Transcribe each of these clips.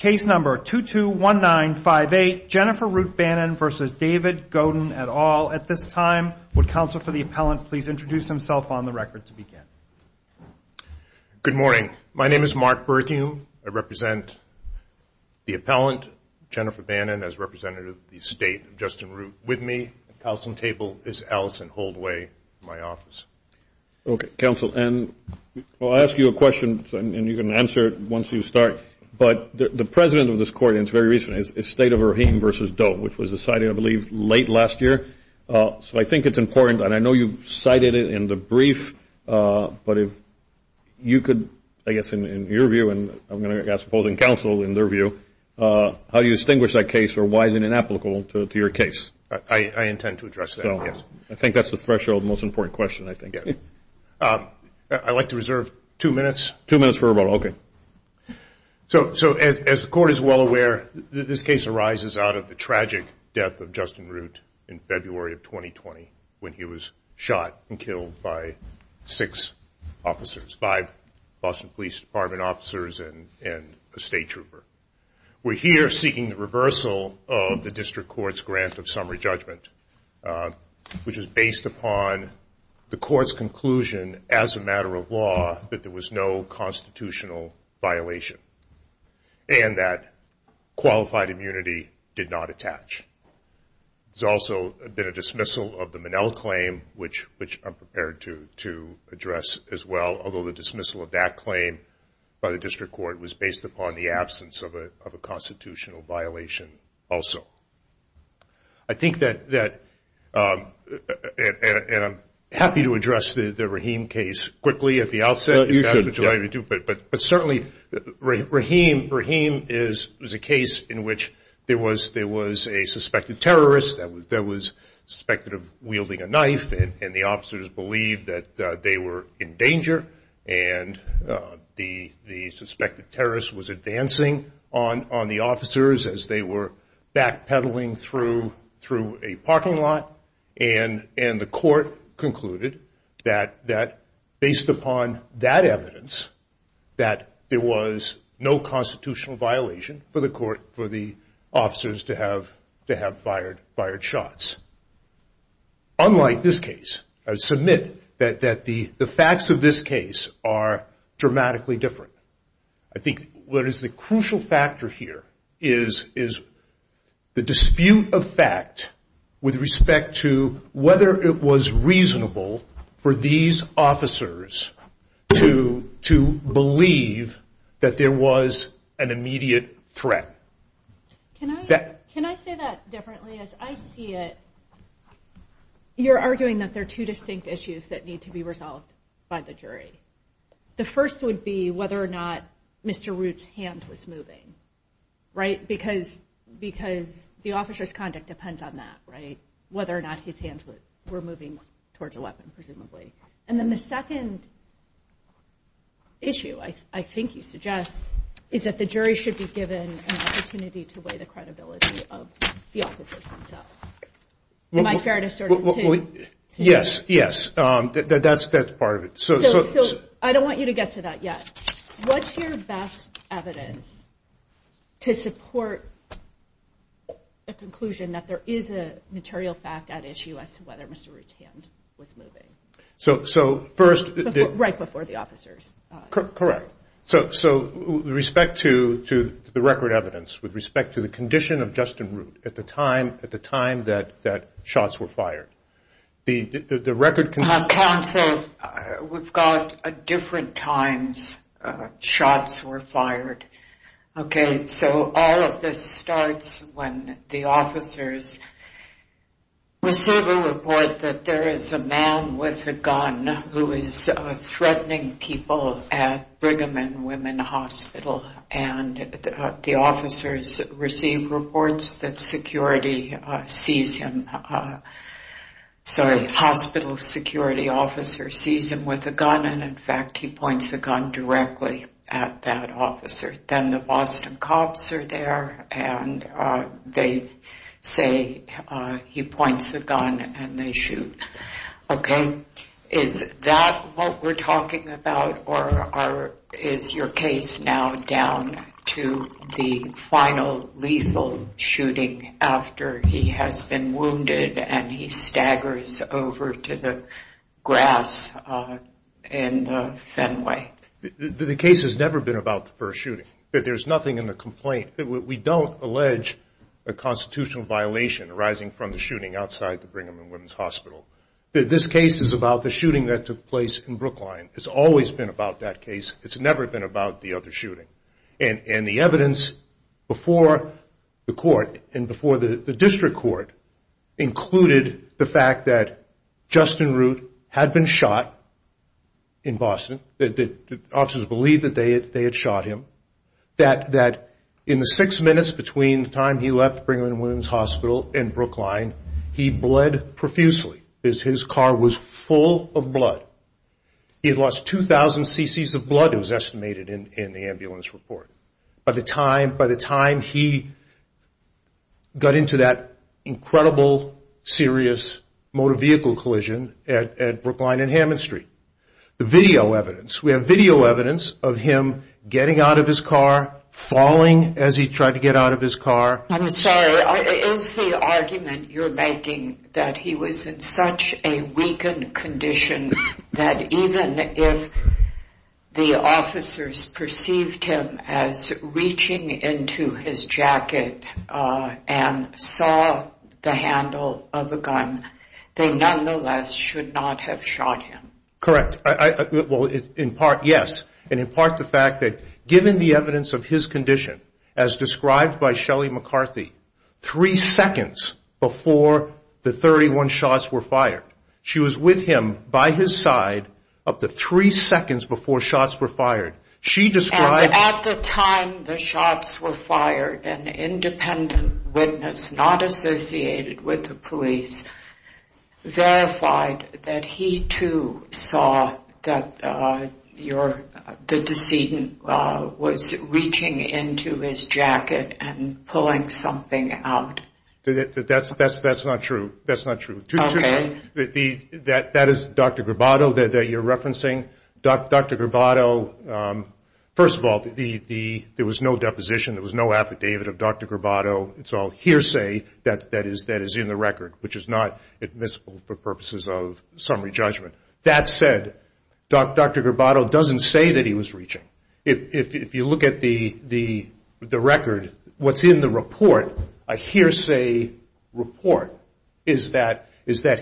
Case number 221958, Jennifer Root Bannon v. David Godin, et al. At this time, would counsel for the appellant please introduce himself on the record to begin? Good morning. My name is Mark Berthiaume. I represent the appellant, Jennifer Bannon, as representative of the state of Justin Root with me. At the counseling table is Allison Holdway from my office. Okay, counsel, and I'll ask you a question, and you can answer it once you start. But the president of this court, and it's very recent, is the state of Rahim v. Doe, which was decided, I believe, late last year, so I think it's important, and I know you've cited it in the brief, but if you could, I guess in your view, and I'm going to ask opposing counsel in their view, how do you distinguish that case, or why is it inapplicable to your case? I intend to address that, yes. I think that's the threshold, the most important question, I think. I'd like to reserve two minutes. Two minutes for rebuttal, okay. So as the court is well aware, this case arises out of the tragic death of Justin Root in February of 2020 when he was shot and killed by six officers, five Boston Police Department officers and a state trooper. We're here seeking the reversal of the district court's grant of summary judgment, which is a constitutional violation, and that qualified immunity did not attach. There's also been a dismissal of the Minnell claim, which I'm prepared to address as well, although the dismissal of that claim by the district court was based upon the absence of a constitutional violation also. I think that, and I'm happy to address the Rahim case quickly at the outset. But certainly, Rahim is a case in which there was a suspected terrorist that was suspected of wielding a knife, and the officers believed that they were in danger, and the suspected terrorist was advancing on the officers as they were backpedaling through a parking lot, and the court concluded that, based upon that evidence, that there was no constitutional violation for the court, for the officers to have fired shots. Unlike this case, I would submit that the facts of this case are dramatically different. I think what is the crucial factor here is the dispute of fact with respect to whether it was reasonable for these officers to believe that there was an immediate threat. Can I say that differently? As I see it, you're arguing that there are two distinct issues that need to be resolved by the jury. The first would be whether or not Mr. Root's hand was moving, because the officer's conduct depends on that, whether or not his hands were moving towards a weapon, presumably. And then the second issue, I think you suggest, is that the jury should be given an opportunity to weigh the credibility of the officers themselves. Am I fair to assert that, too? Yes, yes, that's part of it. I don't want you to get to that yet. What's your best evidence to support a conclusion that there is a material fact at issue as to whether Mr. Root's hand was moving? So first... Right before the officers. Correct. So, with respect to the record evidence, with respect to the condition of Justin Root at the time that shots were fired. The record... Counsel, we've got different times shots were fired, okay? So all of this starts when the officers receive a report that there is a man with a gun who is threatening people at Brigham and Women Hospital, and the officers receive reports that security sees him... Sorry, hospital security officer sees him with a gun, and in fact, he points a gun directly at that officer. Then the Boston cops are there, and they say he points a gun, and they shoot, okay? Is that what we're talking about, or is your case now down to the final lethal shooting after he has been wounded, and he staggers over to the grass in the Fenway? The case has never been about the first shooting. There's nothing in the complaint. We don't allege a constitutional violation arising from the shooting outside the Brigham and Women's Hospital. This case is about the shooting that took place in Brookline. It's always been about that case. It's never been about the other shooting, and the evidence before the court and before the district court included the fact that Justin Root had been shot in Boston. The officers believed that they had shot him, that in the six minutes between the time he bled profusely, his car was full of blood. He had lost 2,000 cc's of blood, it was estimated in the ambulance report, by the time he got into that incredible, serious motor vehicle collision at Brookline and Hammond Street. The video evidence, we have video evidence of him getting out of his car, falling as he tried to get out of his car. I'm sorry, is the argument you're making that he was in such a weakened condition that even if the officers perceived him as reaching into his jacket and saw the handle of a gun, they nonetheless should not have shot him? Correct. Well, in part, yes. And in part, the fact that given the evidence of his condition, as described by Shelley McCarthy, three seconds before the 31 shots were fired. She was with him by his side up to three seconds before shots were fired. She described- At the time the shots were fired, an independent witness, not associated with the police, verified that he too saw that the decedent was reaching into his jacket and pulling something out. That's not true. That is Dr. Gravato that you're referencing. Dr. Gravato, first of all, there was no deposition, there was no affidavit of Dr. Gravato. It's all hearsay that is in the record, which is not admissible for purposes of summary judgment. That said, Dr. Gravato doesn't say that he was reaching. If you look at the record, what's in the report, a hearsay report, is that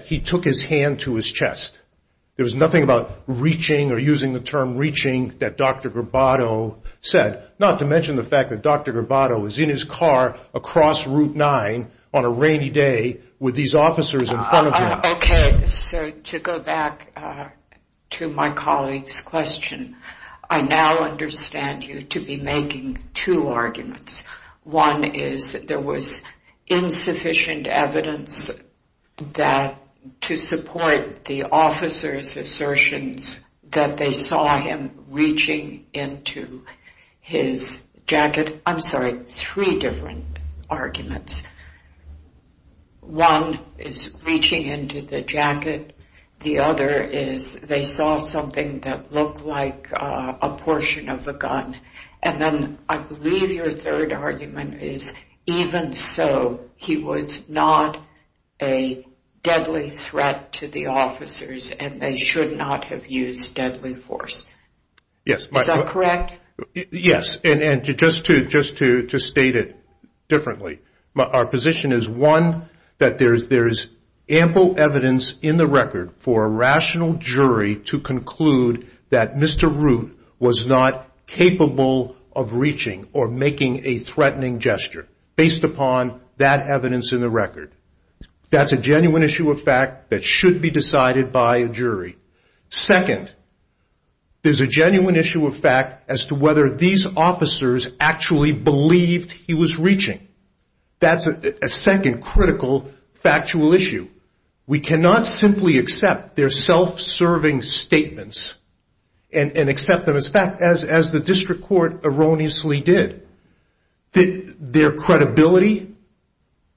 he took his hand to his chest. There was nothing about reaching or using the term reaching that Dr. Gravato said, not to mention the fact that Dr. Gravato was in his car across Route 9 on a rainy day with these officers in front of him. To go back to my colleague's question, I now understand you to be making two arguments. One is there was insufficient evidence to support the officers' assertions that they saw him reaching into his jacket. I'm sorry, three different arguments. One is reaching into the jacket, the other is they saw something that looked like a portion of a gun. Then, I believe your third argument is even so, he was not a deadly threat to the officers and they should not have used deadly force. Is that correct? Yes. Just to state it differently, our position is one, that there is ample evidence in the record for a rational jury to conclude that Mr. Route was not capable of reaching or making a threatening gesture based upon that evidence in the record. That's a genuine issue of fact that should be decided by a jury. Second, there's a genuine issue of fact as to whether these officers actually believed he was reaching. That's a second critical factual issue. We cannot simply accept their self-serving statements and accept them as fact, as the District Court erroneously did. Their credibility,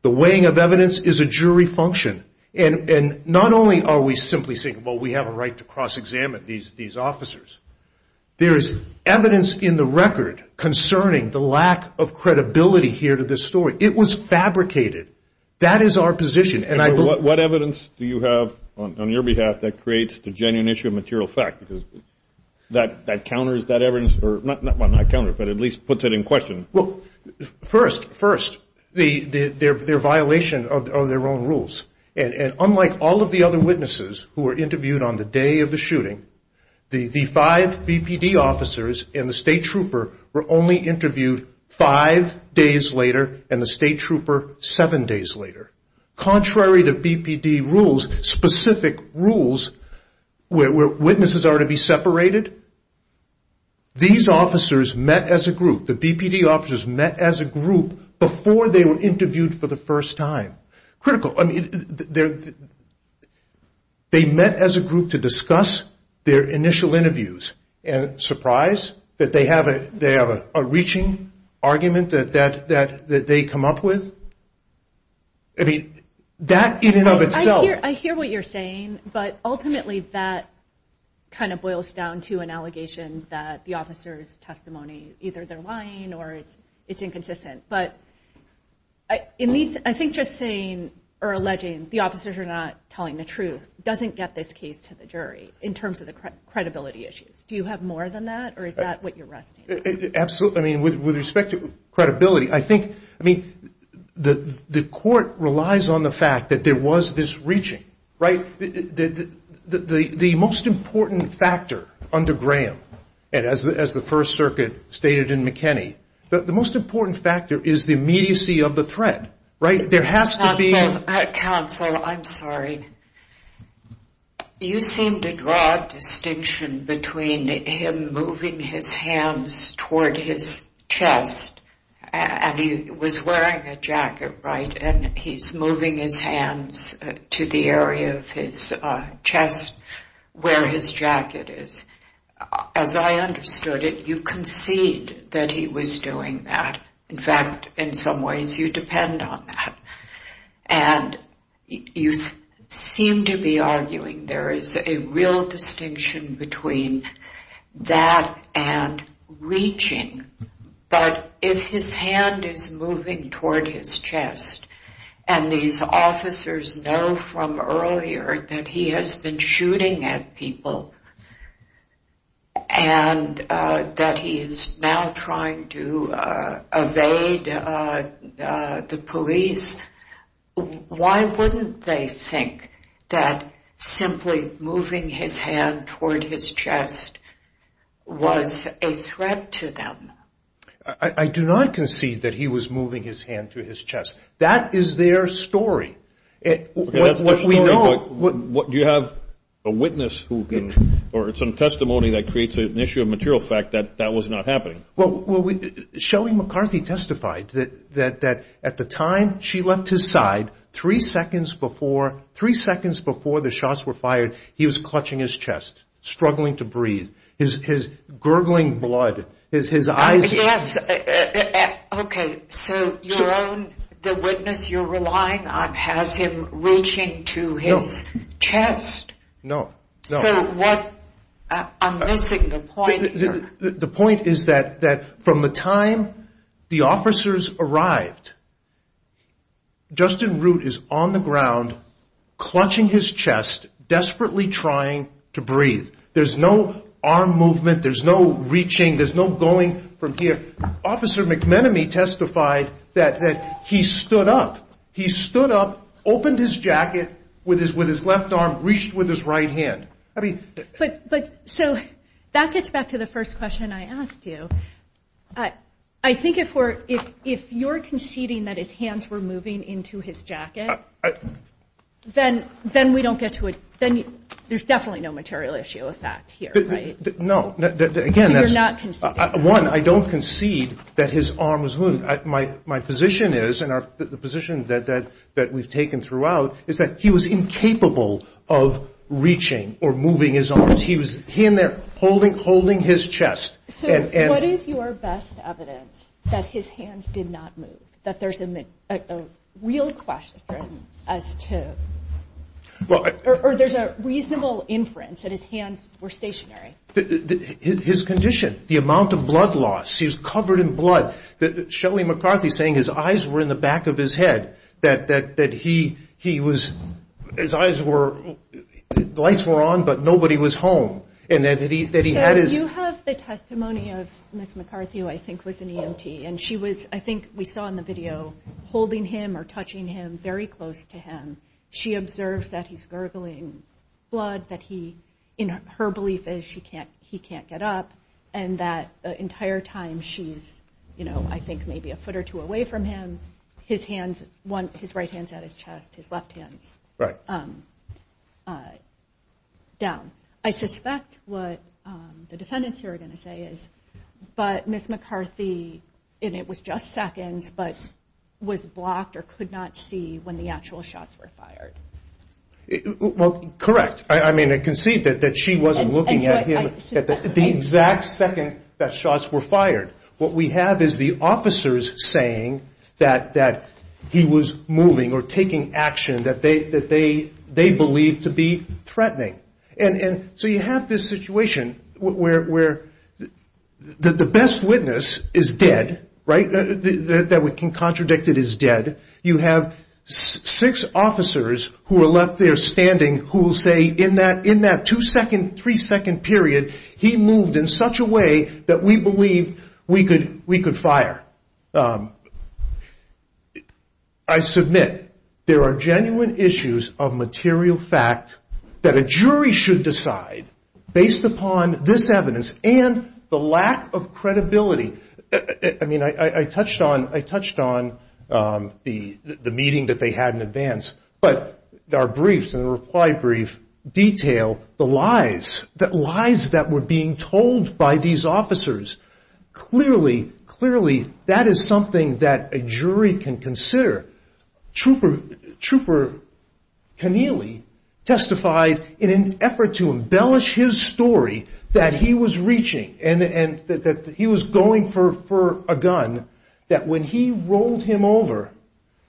the weighing of evidence is a jury function. Not only are we simply saying, well, we have a right to cross-examine these officers, there is evidence in the record concerning the lack of credibility here to this story. It was fabricated. That is our position. What evidence do you have on your behalf that creates the genuine issue of material fact? That counters that evidence, or not counters, but at least puts it in question. First, their violation of their own rules. Unlike all of the other witnesses who were interviewed on the day of the shooting, the five BPD officers and the State Trooper were only interviewed five days later and the State Trooper seven days later. Contrary to BPD rules, specific rules where witnesses are to be separated, these officers met as a group, the BPD officers met as a group before they were interviewed for the first time. Critical. I mean, they met as a group to discuss their initial interviews and surprise that they have a reaching argument that they come up with. I mean, that in and of itself... I hear what you're saying, but ultimately that kind of boils down to an allegation that the officer's testimony, either they're lying or it's inconsistent, but I think just saying or alleging the officers are not telling the truth doesn't get this case to the jury in terms of the credibility issues. Do you have more than that or is that what you're resting on? Absolutely. With respect to credibility, I think the court relies on the fact that there was this reaching. The most important factor under Graham, as the First Circuit stated in McKinney, the most important factor is the immediacy of the threat. There has to be... Counsel, I'm sorry. You seem to draw a distinction between him moving his hands toward his chest and he was wearing a jacket, right, and he's moving his hands to the area of his chest where his jacket is. As I understood it, you concede that he was doing that. In fact, in some ways you depend on that. You seem to be arguing there is a real distinction between that and reaching, but if his hand is moving toward his chest and these officers know from earlier that he has been shooting at people and that he is now trying to evade the police, why wouldn't they think that simply moving his hand toward his chest was a threat to them? I do not concede that he was moving his hand to his chest. That is their story. Do you have a witness or some testimony that creates an issue of material fact that that was not happening? Well, Shelley McCarthy testified that at the time she left his side, three seconds before the shots were fired, he was clutching his chest, struggling to breathe, his gurgling blood, his eyes... So the witness you are relying on has him reaching to his chest? No. So what... I'm missing the point here. The point is that from the time the officers arrived, Justin Root is on the ground clutching his chest, desperately trying to breathe. There's no arm movement, there's no reaching, there's no going from here. Officer McMenemy testified that he stood up, he stood up, opened his jacket with his left arm, reached with his right hand. But so that gets back to the first question I asked you. I think if you're conceding that his hands were moving into his jacket, then we don't There's definitely no material issue of fact here, right? No. Again, that's... So you're not conceding? One, I don't concede that his arm was moving. My position is, and the position that we've taken throughout, is that he was incapable of reaching or moving his arms. He was in there holding his chest. So what is your best evidence that his hands did not move, that there's a real question or there's a reasonable inference that his hands were stationary? His condition, the amount of blood loss, he was covered in blood. Shelly McCarthy's saying his eyes were in the back of his head, that he was... His eyes were... The lights were on, but nobody was home. And that he had his... So you have the testimony of Ms. McCarthy, who I think was an EMT, and she was, I think we saw in the video, holding him or touching him very close to him. She observes that he's gurgling blood, that he... In her belief is he can't get up, and that the entire time she's, I think, maybe a foot or two away from him, his hands, his right hand's at his chest, his left hand's down. I suspect what the defendants here are going to say is, but Ms. McCarthy, and it was just seconds, but was blocked or could not see when the actual shots were fired. Well, correct. I mean, I conceived it, that she wasn't looking at him at the exact second that shots were fired. What we have is the officers saying that he was moving or taking action that they believe to be threatening. And so you have this situation where the best witness is dead, right? That we can contradict that he's dead. You have six officers who are left there standing who will say, in that two-second, three-second period, he moved in such a way that we believed we could fire. I submit, there are genuine issues of material fact that a jury should decide based upon this evidence and the lack of credibility. I mean, I touched on the meeting that they had in advance, but our briefs and reply brief detail the lies, the lies that were being told by these officers. Clearly, clearly, that is something that a jury can consider. Trooper Keneally testified in an effort to embellish his story that he was reaching and that he was going for a gun, that when he rolled him over,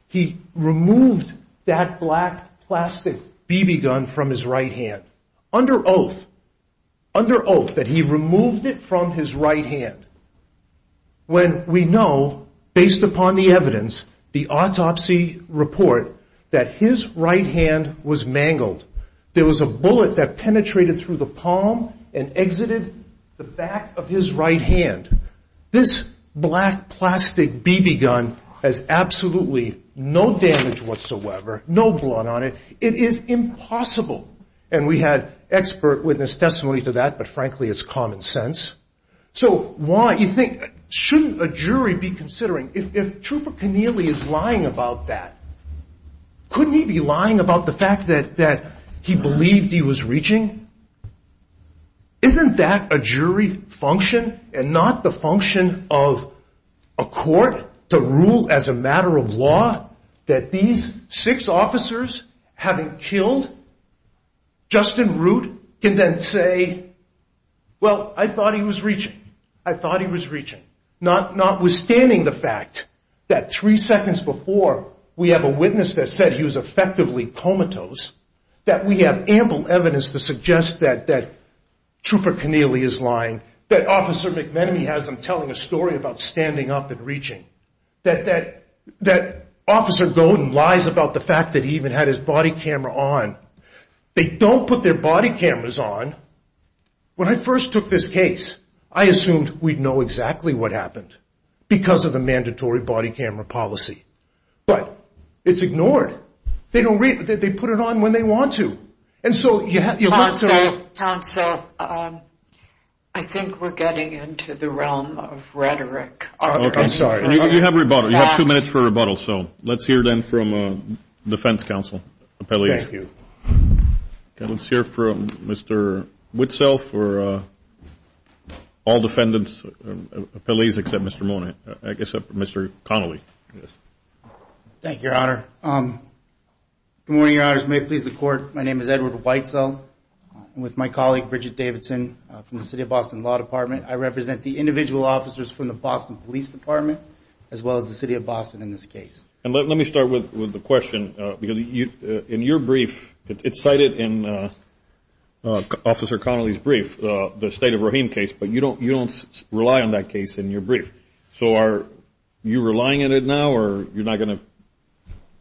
he removed that black plastic BB gun from his right hand, under oath, under oath that he removed it from his right hand. When we know, based upon the evidence, the autopsy report, that his right hand was mangled. There was a bullet that penetrated through the palm and exited the back of his right hand. This black plastic BB gun has absolutely no damage whatsoever, no blood on it. It is impossible. And we had expert witness testimony to that, but frankly, it's common sense. So why, you think, shouldn't a jury be considering, if Trooper Keneally is lying about that, couldn't he be lying about the fact that he believed he was reaching? Isn't that a jury function and not the function of a court to rule as a matter of law that these six officers, having killed Justin Root, can then say, well, I thought he was reaching. I thought he was reaching. Notwithstanding the fact that three seconds before, we have a witness that said he was effectively comatose, that we have ample evidence to suggest that Trooper Keneally is lying, that Officer McMenemy has him telling a story about standing up and reaching, that Officer Golden lies about the fact that he even had his body camera on. They don't put their body cameras on. When I first took this case, I assumed we'd know exactly what happened because of the mandatory body camera policy. But it's ignored. They don't, they put it on when they want to. And so, you have, you have, so, um, I think we're getting into the realm of rhetoric. I'm sorry. You have rebuttal. You have two minutes for rebuttal. So, let's hear then from, uh, defense counsel, appellees. Thank you. Okay, let's hear from Mr. Whitsell for, uh, all defendants, uh, appellees, except Mr. Mona, uh, except Mr. Connelly. Yes. Thank you, Your Honor. Um, good morning, Your Honors. May it please the Court. My name is Edward Whitesell. I'm with my colleague, Bridget Davidson, uh, from the City of Boston Law Department. I represent the individual officers from the Boston Police Department, as well as the City of Boston in this case. And let, let me start with, with the question, uh, because you, uh, in your brief, it, it's cited in, uh, uh, Officer Connelly's brief, uh, the State of Rahim case, but you don't, you don't rely on that case in your brief. So are you relying on it now, or you're not going to?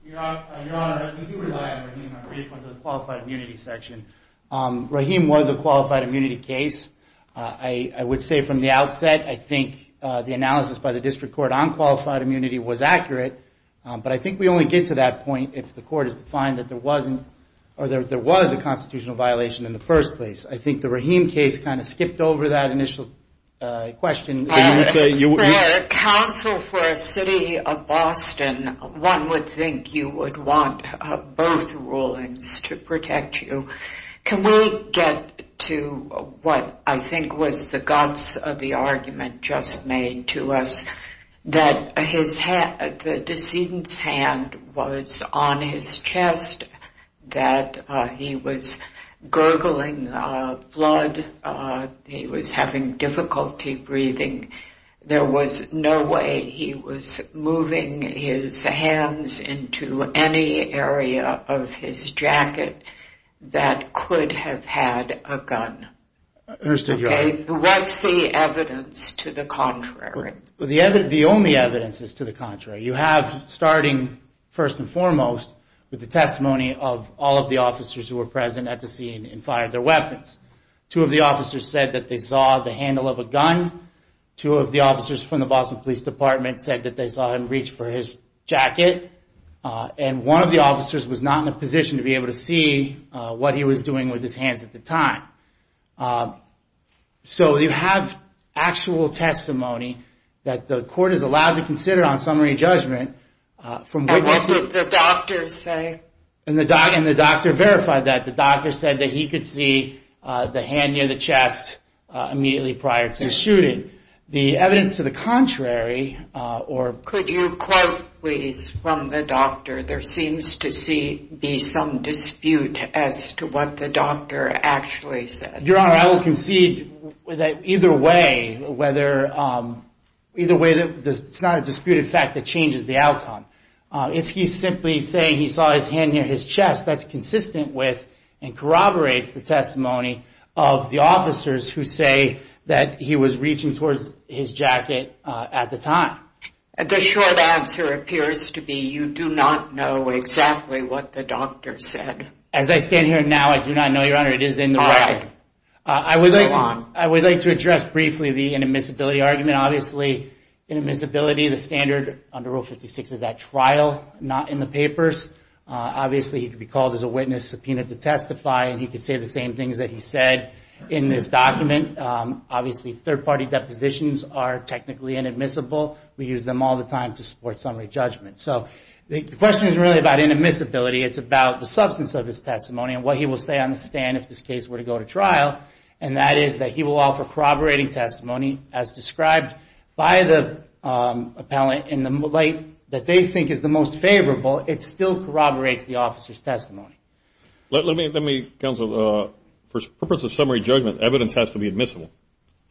Your Honor, I do rely on Rahim, I read from the Qualified Immunity section. Um, Rahim was a Qualified Immunity case. Uh, I, I would say from the outset, I think, uh, the analysis by the District Court on that was accurate. Um, but I think we only get to that point if the Court is to find that there wasn't, or there, there was a constitutional violation in the first place. I think the Rahim case kind of skipped over that initial, uh, question, uh, that you would say. For counsel for a City of Boston, one would think you would want, uh, both rulings to protect you. Can we get to what, I think, was the guts of the argument just made to us, that his hand, the decedent's hand was on his chest, that, uh, he was gurgling, uh, blood, uh, he was having difficulty breathing. There was no way he was moving his hands into any area of his jacket that could have had a gun. Understood, Your Honor. Okay? What's the evidence to the contrary? The evidence, the only evidence is to the contrary. You have, starting first and foremost, with the testimony of all of the officers who were present at the scene and fired their weapons. Two of the officers said that they saw the handle of a gun. Two of the officers from the Boston Police Department said that they saw him reach for his jacket. Uh, and one of the officers was not in a position to be able to see, uh, what he was doing with his hands at the time. Uh, so you have actual testimony that the court is allowed to consider on summary judgment, uh, from what was... And what did the doctor say? And the doc, and the doctor verified that. The doctor said that he could see, uh, the hand near the chest, uh, immediately prior to shooting. The evidence to the contrary, uh, or... Could you quote, please, from the doctor? There seems to see, be some dispute as to what the doctor actually said. Your Honor, I will concede that either way, whether, um, either way, it's not a disputed fact that changes the outcome. Uh, if he's simply saying he saw his hand near his chest, that's consistent with and corroborates the testimony of the officers who say that he was reaching towards his jacket, uh, at the time. The short answer appears to be you do not know exactly what the doctor said. As I stand here now, I do not know, Your Honor. It is in the record. All right. Uh, I would like... Go on. I would like to address briefly the inadmissibility argument. Obviously, inadmissibility, the standard under Rule 56 is at trial, not in the papers. Uh, obviously, he could be called as a witness, subpoenaed to testify, and he could say the same things that he said in this document. Um, obviously, third-party depositions are technically inadmissible. We use them all the time to support summary judgment. So, the question is really about inadmissibility. It's about the substance of his testimony and what he will say on the stand if this case were to go to trial, and that is that he will offer corroborating testimony as described by the, um, appellant in the light that they think is the most favorable. It still corroborates the officer's testimony. Let, let me, let me, counsel, uh, for purpose of summary judgment, evidence has to be admissible.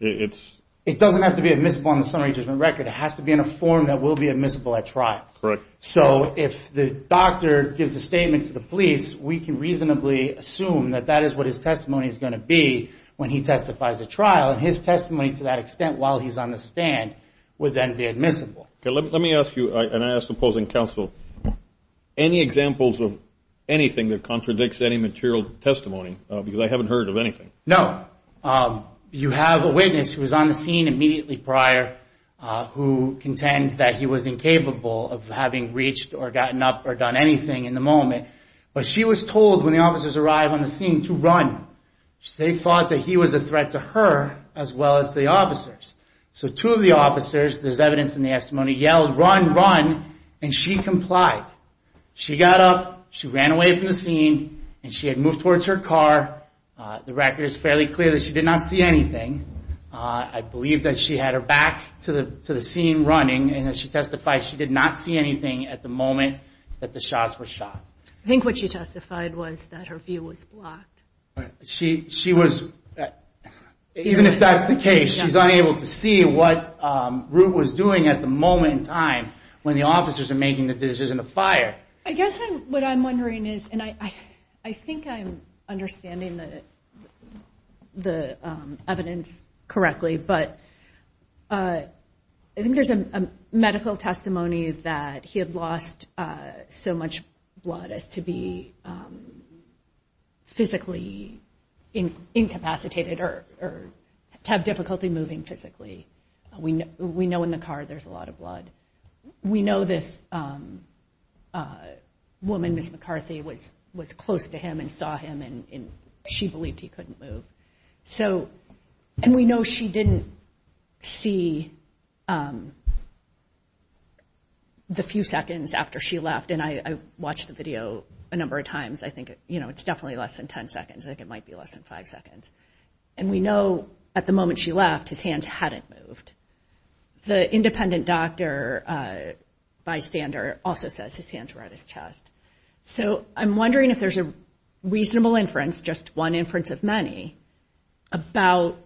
It, it's... It doesn't have to be admissible on the summary judgment record. It has to be in a form that will be admissible at trial. Correct. So, if the doctor gives a statement to the police, we can reasonably assume that that is what his testimony is going to be when he testifies at trial, and his testimony to that extent while he's on the stand would then be admissible. Okay, let, let me ask you, and I ask the opposing counsel, any examples of anything that contradicts any material testimony, uh, because I haven't heard of anything. No. Um, you have a witness who was on the scene immediately prior, uh, who contends that he was incapable of having reached or gotten up or done anything in the moment, but she was told when the officers arrived on the scene to run. They thought that he was a threat to her as well as the officers. So two of the officers, there's evidence in the testimony, yelled, run, run, and she complied. She got up, she ran away from the scene, and she had moved towards her car, uh, the record is fairly clear that she did not see anything, uh, I believe that she had her back to the, to the scene running, and as she testified, she did not see anything at the moment that the shots were shot. I think what she testified was that her view was blocked. She, she was, even if that's the case, she's unable to see what, um, Root was doing at the moment in time when the officers are making the decision to fire. I guess what I'm wondering is, and I, I think I'm understanding the, the, um, evidence correctly, but, uh, I think there's a, a medical testimony that he had lost, uh, so much blood as to be, um, physically incapacitated or, or to have difficulty moving physically. We know, we know in the car there's a lot of blood. We know this, um, uh, woman, Ms. McCarthy, was, was close to him and saw him and, and she believed he couldn't move, so, and we know she didn't see, um, the few seconds after she left, and I, I watched the video a number of times, I think, you know, it's definitely less than 10 seconds, I think it might be less than 5 seconds, and we know at the moment when she left, his hands hadn't moved. The independent doctor, uh, bystander also says his hands were at his chest. So I'm wondering if there's a reasonable inference, just one inference of many, about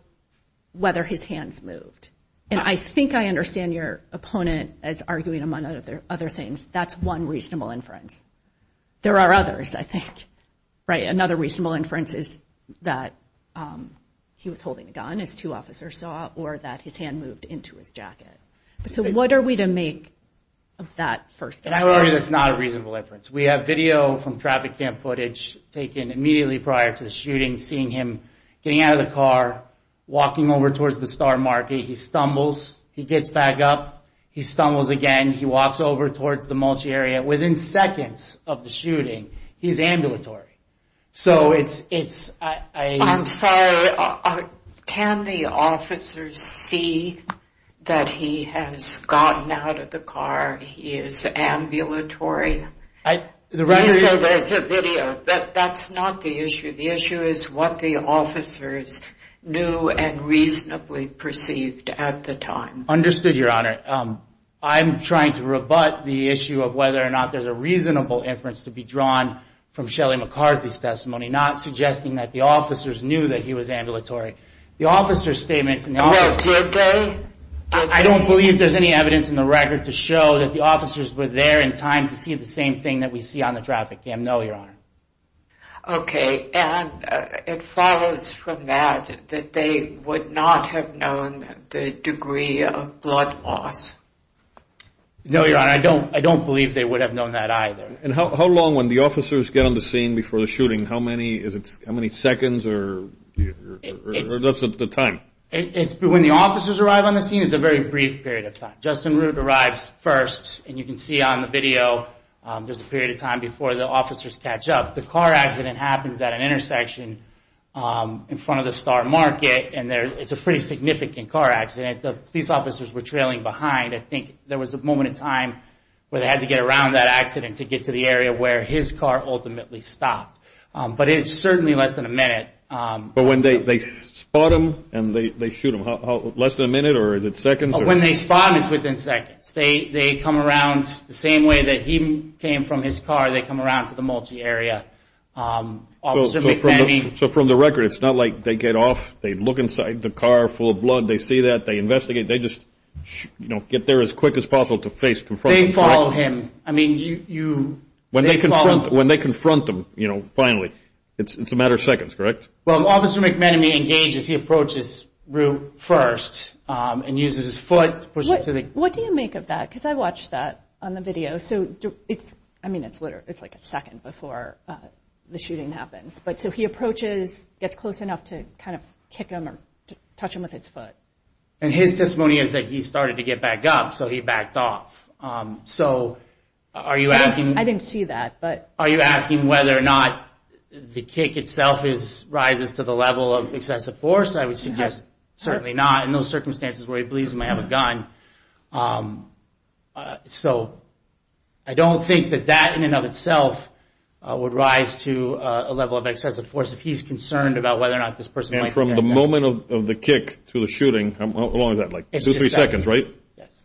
whether his hands moved. And I think I understand your opponent as arguing among other, other things. That's one reasonable inference. There are others, I think, right? Another reasonable inference is that, um, he was holding a gun, as two officers saw, or that his hand moved into his jacket. So what are we to make of that first? And I would argue that's not a reasonable inference. We have video from traffic cam footage taken immediately prior to the shooting, seeing him getting out of the car, walking over towards the star market, he stumbles, he gets back up, he stumbles again, he walks over towards the mulch area. And within seconds of the shooting, he's ambulatory. So it's, it's, I, I, I'm sorry, can the officers see that he has gotten out of the car, he is ambulatory? I, the record, so there's a video, but that's not the issue. The issue is what the officers knew and reasonably perceived at the time. Understood, your honor. I'm trying to rebut the issue of whether or not there's a reasonable inference to be drawn from Shelly McCarthy's testimony, not suggesting that the officers knew that he was ambulatory. The officer's statements, I don't believe there's any evidence in the record to show that the officers were there in time to see the same thing that we see on the traffic cam. No, your honor. Okay. And it follows from that, that they would not have known the degree of blood loss. No, your honor, I don't, I don't believe they would have known that either. And how, how long when the officers get on the scene before the shooting, how many is it, how many seconds or, or that's the time? It's when the officers arrive on the scene, it's a very brief period of time. Justin Root arrives first and you can see on the video, there's a period of time before the officers catch up. The car accident happens at an intersection in front of the Star Market and there, it's a pretty significant car accident. The police officers were trailing behind. I think there was a moment in time where they had to get around that accident to get to the area where his car ultimately stopped. But it's certainly less than a minute. But when they, they spot him and they, they shoot him, how, how, less than a minute or is it seconds? When they spot him, it's within seconds. They come around the same way that he came from his car. They come around to the multi-area. Officer McManamy. So, so from the, so from the record, it's not like they get off, they look inside the car full of blood, they see that, they investigate, they just, you know, get there as quick as possible to face, confront him, correct? They follow him. I mean, you, you, they follow. When they confront, when they confront him, you know, finally, it's, it's a matter of seconds, correct? Well, Officer McManamy engages, he approaches Root first and uses his foot to push him to the... What do you make of that? Because I watched that on the video. So, so it's, I mean, it's literally, it's like a second before the shooting happens. But so he approaches, gets close enough to kind of kick him or touch him with his foot. And his testimony is that he started to get back up, so he backed off. So are you asking... I didn't see that, but... Are you asking whether or not the kick itself is, rises to the level of excessive force? I would suggest certainly not in those circumstances where he believes he may have a gun. So I don't think that that in and of itself would rise to a level of excessive force if he's concerned about whether or not this person might have a gun. And from the moment of the kick to the shooting, how long is that, like two, three seconds, right? Yes.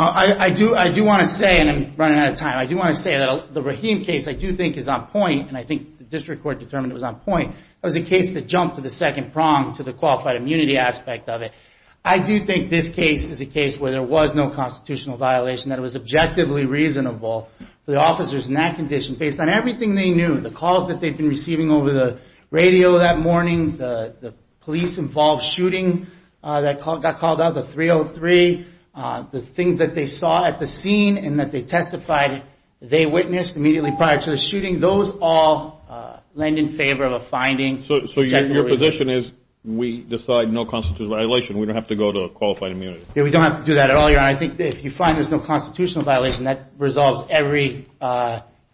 I do, I do want to say, and I'm running out of time, I do want to say that the Rahim case I do think is on point, and I think the district court determined it was on point, that was a case that jumped to the second prong, to the qualified immunity aspect of it. I do think this case is a case where there was no constitutional violation, that it was objectively reasonable for the officers in that condition, based on everything they knew, the calls that they'd been receiving over the radio that morning, the police-involved shooting that got called out, the 303, the things that they saw at the scene and that they testified, they witnessed immediately prior to the shooting, those all lend in favor of a finding. So your position is we decide no constitutional violation, we don't have to go to qualified immunity? Yeah, we don't have to do that at all, Your Honor. I think if you find there's no constitutional violation, that resolves every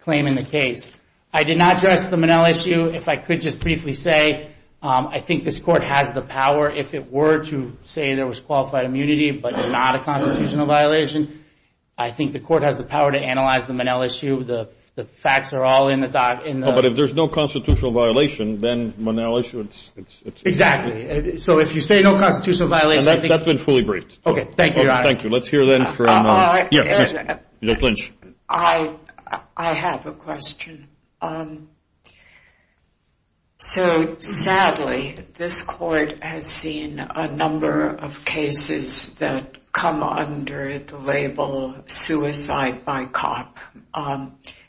claim in the case. I did not address them in LSU. If I could just briefly say, I think this court has the power, if it were to say there was qualified immunity, but not a constitutional violation, I think the court has the power to analyze them in LSU. The facts are all in the doc. But if there's no constitutional violation, then when they're in LSU, it's... Exactly. So if you say no constitutional violation, I think... That's been fully briefed. Okay, thank you, Your Honor. Thank you. Let's hear then from... Yes, Ms. Lynch. I have a question. So, sadly, this court has seen a number of cases that come under the label suicide by cop.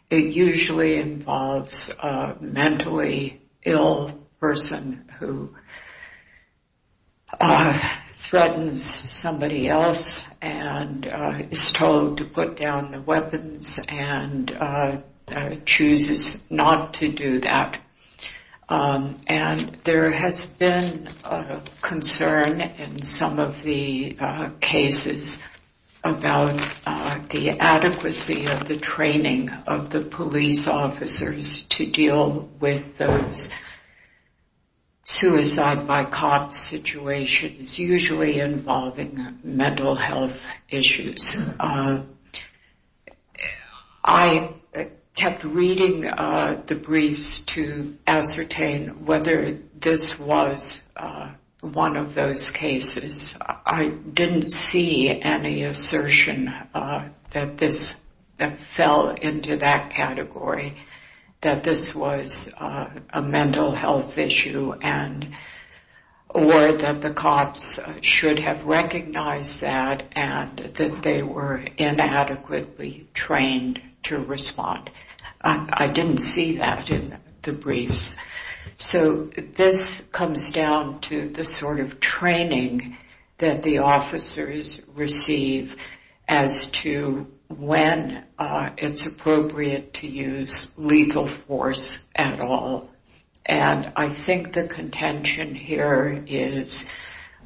It usually involves a mentally ill person who threatens somebody else and is told to put down the weapons and chooses not to do that. And there has been concern in some of the cases about the adequacy of the training of the police officers to deal with those suicide by cop situations, usually involving mental health issues. I kept reading the briefs to ascertain whether this was one of those cases. I didn't see any assertion that this fell into that category, that this was a mental health issue or that the cops should have recognized that and that they were inadequately trained to respond. I didn't see that in the briefs. So this comes down to the sort of training that the officers receive as to when it's I think the contention here is,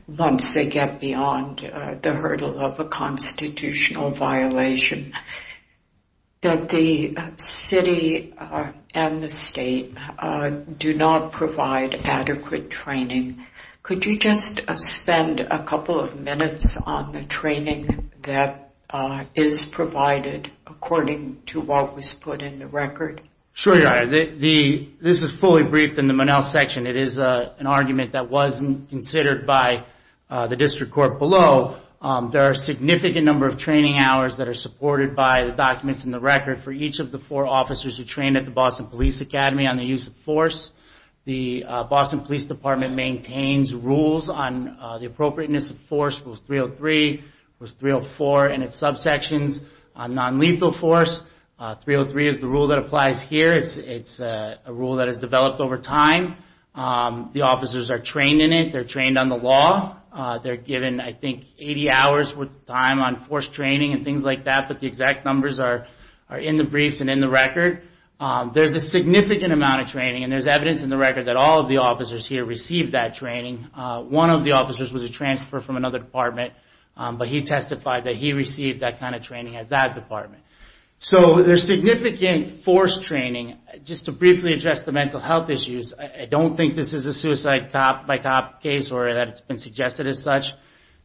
once they get beyond the hurdle of a constitutional violation, that the city and the state do not provide adequate training. Could you just spend a couple of minutes on the training that is provided according to what was put in the record? Sure, yeah. This is fully briefed in the Monell section. It is an argument that wasn't considered by the district court below. There are a significant number of training hours that are supported by the documents in the record for each of the four officers who trained at the Boston Police Academy on the use of force. The Boston Police Department maintains rules on the appropriateness of force, Rules 303, Rules 304, and its subsections. On non-lethal force, 303 is the rule that applies here. It's a rule that has developed over time. The officers are trained in it. They're trained on the law. They're given, I think, 80 hours worth of time on force training and things like that, but the exact numbers are in the briefs and in the record. There's a significant amount of training, and there's evidence in the record that all of the officers here received that training. One of the officers was a transfer from another department, but he testified that he received that kind of training at that department. So there's significant force training. Just to briefly address the mental health issues, I don't think this is a suicide cop-by-cop case or that it's been suggested as such.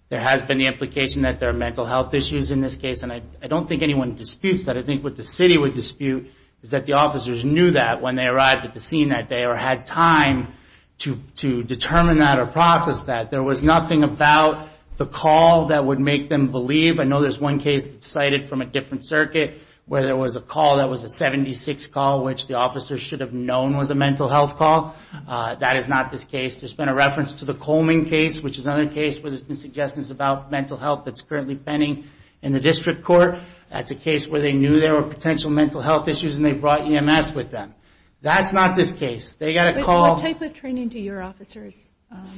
There has been the implication that there are mental health issues in this case, and I don't think anyone disputes that. I think what the city would dispute is that the officers knew that when they arrived at the scene that day or had time to determine that or process that. There was nothing about the call that would make them believe. I know there's one case that's cited from a different circuit where there was a call that was a 76 call, which the officers should have known was a mental health call. That is not this case. There's been a reference to the Coleman case, which is another case where there's been suggestions about mental health that's currently pending in the district court. That's a case where they knew there were potential mental health issues, and they brought EMS with them. That's not this case. They got a call. But what type of training do your officers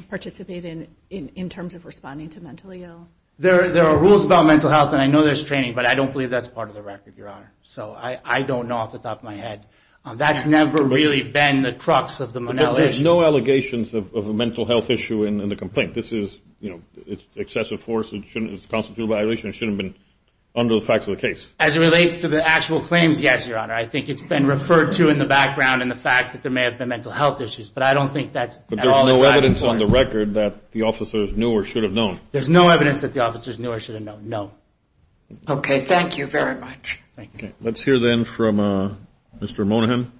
participate in, in terms of responding to mentally ill? There are rules about mental health, and I know there's training, but I don't believe that's part of the record, Your Honor. So I don't know off the top of my head. That's never really been the crux of the Monell issue. But there's no allegations of a mental health issue in the complaint. This is excessive force. It's a constitutive violation. It shouldn't have been under the facts of the case. As it relates to the actual claims, yes, Your Honor. I think it's been referred to in the background in the facts that there may have been mental health issues, but I don't think that's at all important. But there's no evidence on the record that the officers knew or should have known. There's no evidence that the officers knew or should have known. No. Okay. Thank you very much. Thank you. Let's hear, then, from Mr. Moynihan.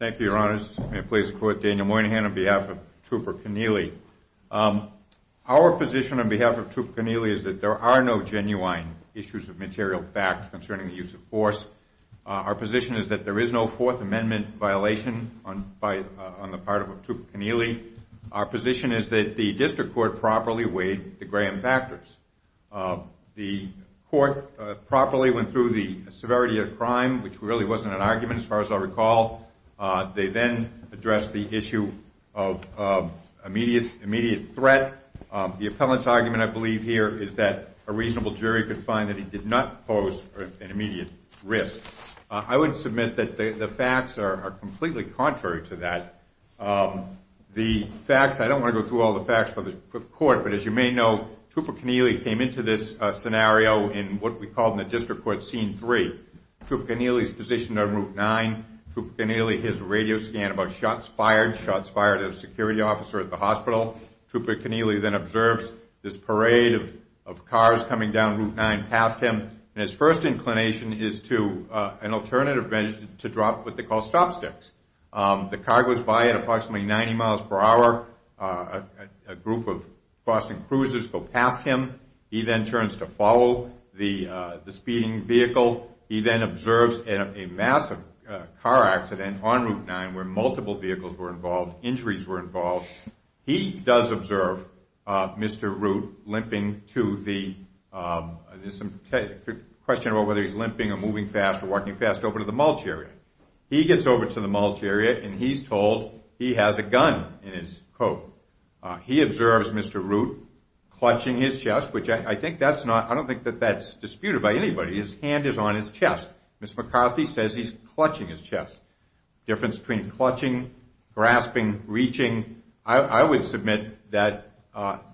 Thank you, Your Honors. May it please the Court, Daniel Moynihan on behalf of Trooper Connealy. Our position on behalf of Trooper Connealy is that there are no genuine issues of material fact concerning the use of force. Our position is that there is no Fourth Amendment violation on the part of Trooper Connealy. Our position is that the district court properly weighed the gram factors. The court properly went through the severity of the crime, which really wasn't an argument, as far as I recall. They then addressed the issue of immediate threat. The appellant's argument, I believe, here is that a reasonable jury could find that he did not pose an immediate risk. I would submit that the facts are completely contrary to that. The facts, I don't want to go through all the facts for the court, but as you may know, Trooper Connealy came into this scenario in what we call in the district court scene three. Trooper Connealy is positioned on Route 9. Trooper Connealy, his radio scan about shots fired, shots fired at a security officer at the hospital. Trooper Connealy then observes this parade of cars coming down Route 9 past him. His first inclination is to an alternative venture to drop what they call stop sticks. The car goes by at approximately 90 miles per hour. A group of Boston cruisers go past him. He then turns to follow the speeding vehicle. He then observes a massive car accident on Route 9 where multiple vehicles were involved, injuries were involved. He does observe Mr. Root limping to the, there's a question about whether he's limping or moving fast or walking fast over to the mulch area. He gets over to the mulch area and he's told he has a gun in his coat. He observes Mr. Root clutching his chest, which I think that's not, I don't think that that's disputed by anybody. His hand is on his chest. Ms. McCarthy says he's clutching his chest. Difference between clutching, grasping, reaching. I would submit that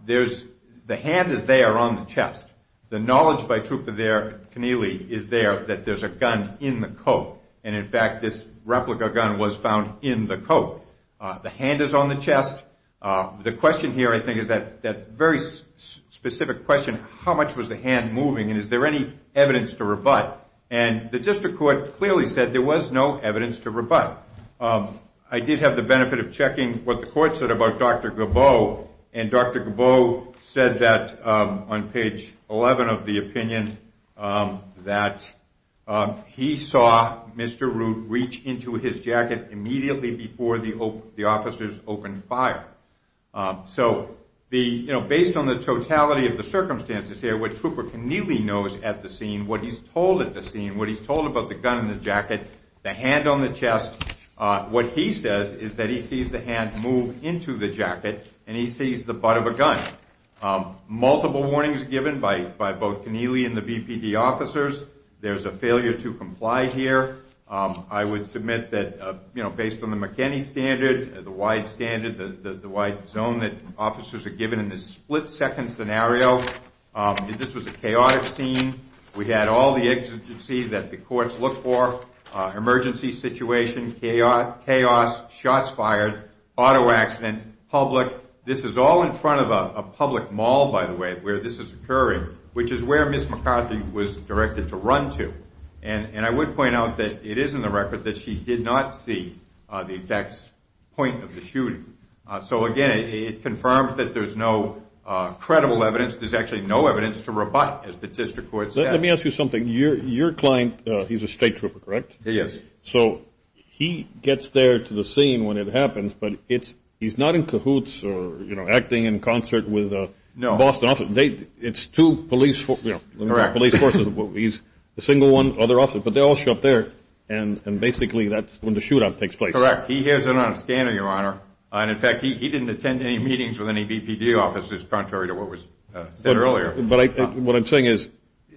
there's, the hand is there on the chest. The knowledge by Trooper Connealy is there that there's a gun in the coat, and in fact this replica gun was found in the coat. The hand is on the chest. The question here I think is that very specific question, how much was the hand moving and is there any evidence to rebut? And the district court clearly said there was no evidence to rebut. I did have the benefit of checking what the court said about Dr. Gabot, and Dr. Gabot said that on page 11 of the opinion that he saw Mr. Root reach into his jacket immediately before the officers opened fire. So based on the totality of the circumstances there, what Trooper Connealy knows at the scene, what he's told at the scene, what he's told about the gun in the jacket, the hand on the chest, what he says is that he sees the hand move into the jacket and he sees the butt of a gun. Multiple warnings given by both Connealy and the BPD officers. There's a failure to comply here. I would submit that based on the McKinney standard, the wide standard, the wide zone that officers are given in this split-second scenario, this was a chaotic scene. We had all the exigencies that the courts look for, emergency situation, chaos, shots fired, auto accident, public. This is all in front of a public mall, by the way, where this is occurring, which is where Ms. McCarthy was directed to run to. And I would point out that it is in the record that she did not see the exact point of the shooting. So again, it confirms that there's no credible evidence. There's actually no evidence to rebut as the district courts have. Let me ask you something. Your client, he's a state trooper, correct? He is. So he gets there to the scene when it happens, but he's not in cahoots or acting in concert with a Boston officer. It's two police forces. He's the single one, other officer. But they all show up there, and basically that's when the shootout takes place. Correct. He hears it on a scanner, Your Honor. And, in fact, he didn't attend any meetings with any BPD officers, contrary to what was said earlier. But what I'm saying is,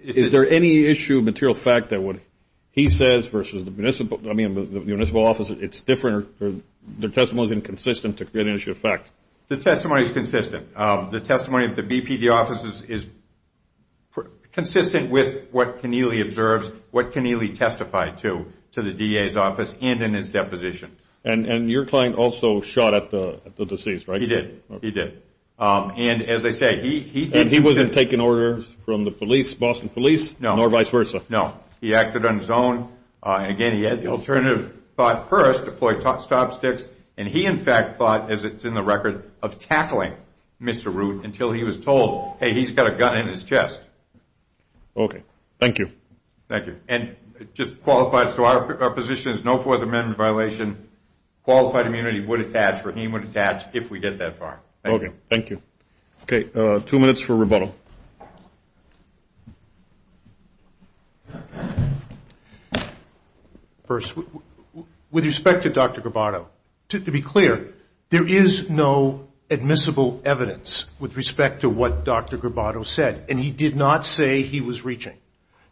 is there any issue of material fact that what he says versus the municipal office, it's different or their testimony is inconsistent to create an issue of fact? The testimony is consistent. The testimony of the BPD officers is consistent with what Keneally observes, what Keneally testified to, to the DA's office and in his deposition. And your client also shot at the deceased, right? He did. He did. And, as I say, he didn't. And he wasn't taking orders from the police, Boston police? No. Nor vice versa? No. He acted on his own. And, again, he had the alternative thought first, deploy stop sticks, and he, in fact, thought, as it's in the record, of tackling Mr. Root until he was told, hey, he's got a gun in his chest. Okay. Thank you. Thank you. And just qualified, so our position is no Fourth Amendment violation. Qualified immunity would attach, Rahim would attach, if we get that far. Okay. Thank you. Okay. Two minutes for rebuttal. First, with respect to Dr. Grabato, to be clear, there is no admissible evidence with respect to what Dr. Grabato said, and he did not say he was reaching.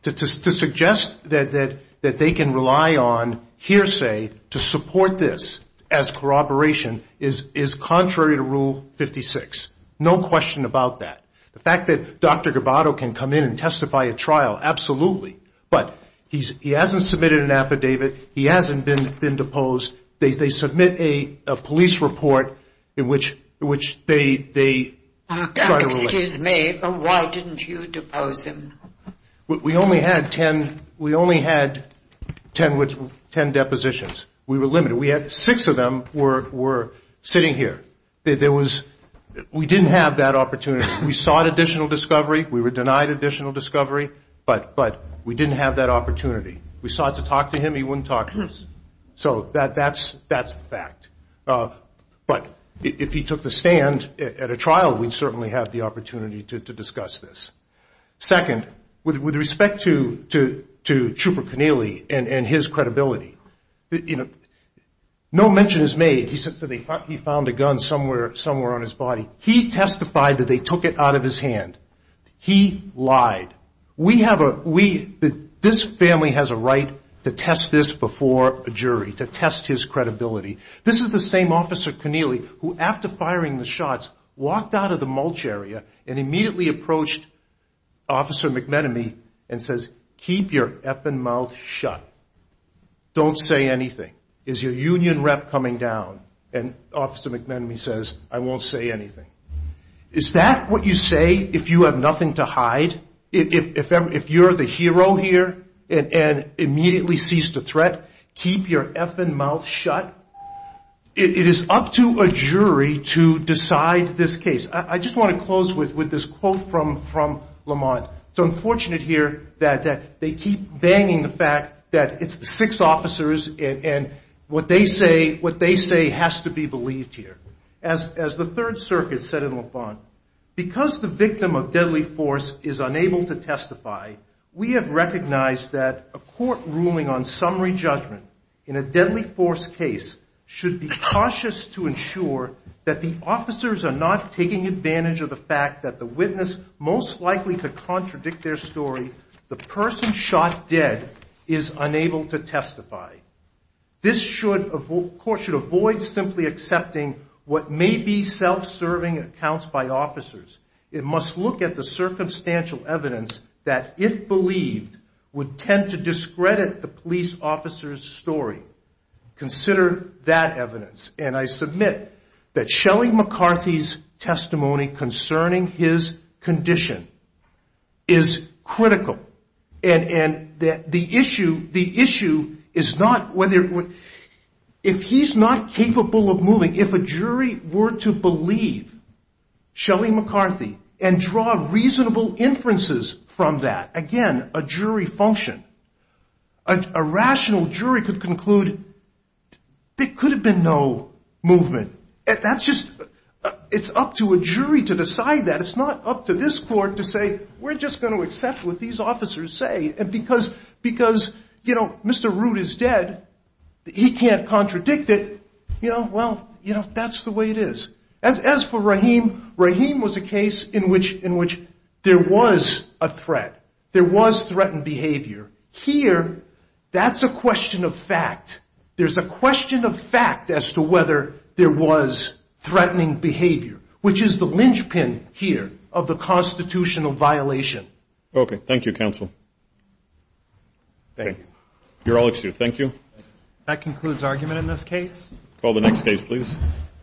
To suggest that they can rely on hearsay to support this as corroboration is contrary to Rule 56. No question about that. The fact that Dr. Grabato can come in and testify at trial, absolutely. But he hasn't submitted an affidavit. He hasn't been deposed. Excuse me. Why didn't you depose him? We only had ten depositions. We were limited. Six of them were sitting here. We didn't have that opportunity. We sought additional discovery. We were denied additional discovery. But we didn't have that opportunity. We sought to talk to him. He wouldn't talk to us. So that's the fact. But if he took the stand at a trial, we'd certainly have the opportunity to discuss this. Second, with respect to Trooper Connealy and his credibility, no mention is made. He said he found a gun somewhere on his body. He testified that they took it out of his hand. He lied. This family has a right to test this before a jury, to test his credibility. This is the same Officer Connealy who, after firing the shots, walked out of the mulch area and immediately approached Officer McMenemy and says, Keep your effing mouth shut. Don't say anything. Is your union rep coming down? And Officer McMenemy says, I won't say anything. Is that what you say if you have nothing to hide? If you're the hero here and immediately cease to threat? Keep your effing mouth shut? It is up to a jury to decide this case. I just want to close with this quote from Lamont. It's unfortunate here that they keep banging the fact that it's the six officers and what they say has to be believed here. As the Third Circuit said in Lamont, Because the victim of deadly force is unable to testify, we have recognized that a court ruling on summary judgment in a deadly force case should be cautious to ensure that the officers are not taking advantage of the fact that the witness most likely to contradict their story, the person shot dead, is unable to testify. This court should avoid simply accepting what may be self-serving accounts by officers. It must look at the circumstantial evidence that, if believed, would tend to discredit the police officer's story. Consider that evidence. And I submit that Shelley McCarthy's testimony concerning his condition is critical. And the issue is not whether, if he's not capable of moving, if a jury were to believe Shelley McCarthy and draw reasonable inferences from that, again, a jury function, a rational jury could conclude there could have been no movement. It's up to a jury to decide that. It's not up to this court to say we're just going to accept what these officers say because Mr. Root is dead, he can't contradict it. You know, well, that's the way it is. As for Rahim, Rahim was a case in which there was a threat. There was threatened behavior. Here, that's a question of fact. There's a question of fact as to whether there was threatening behavior, which is the linchpin here of the constitutional violation. Okay. Thank you, counsel. Thank you. You're all excused. Thank you. That concludes argument in this case. Call the next case, please.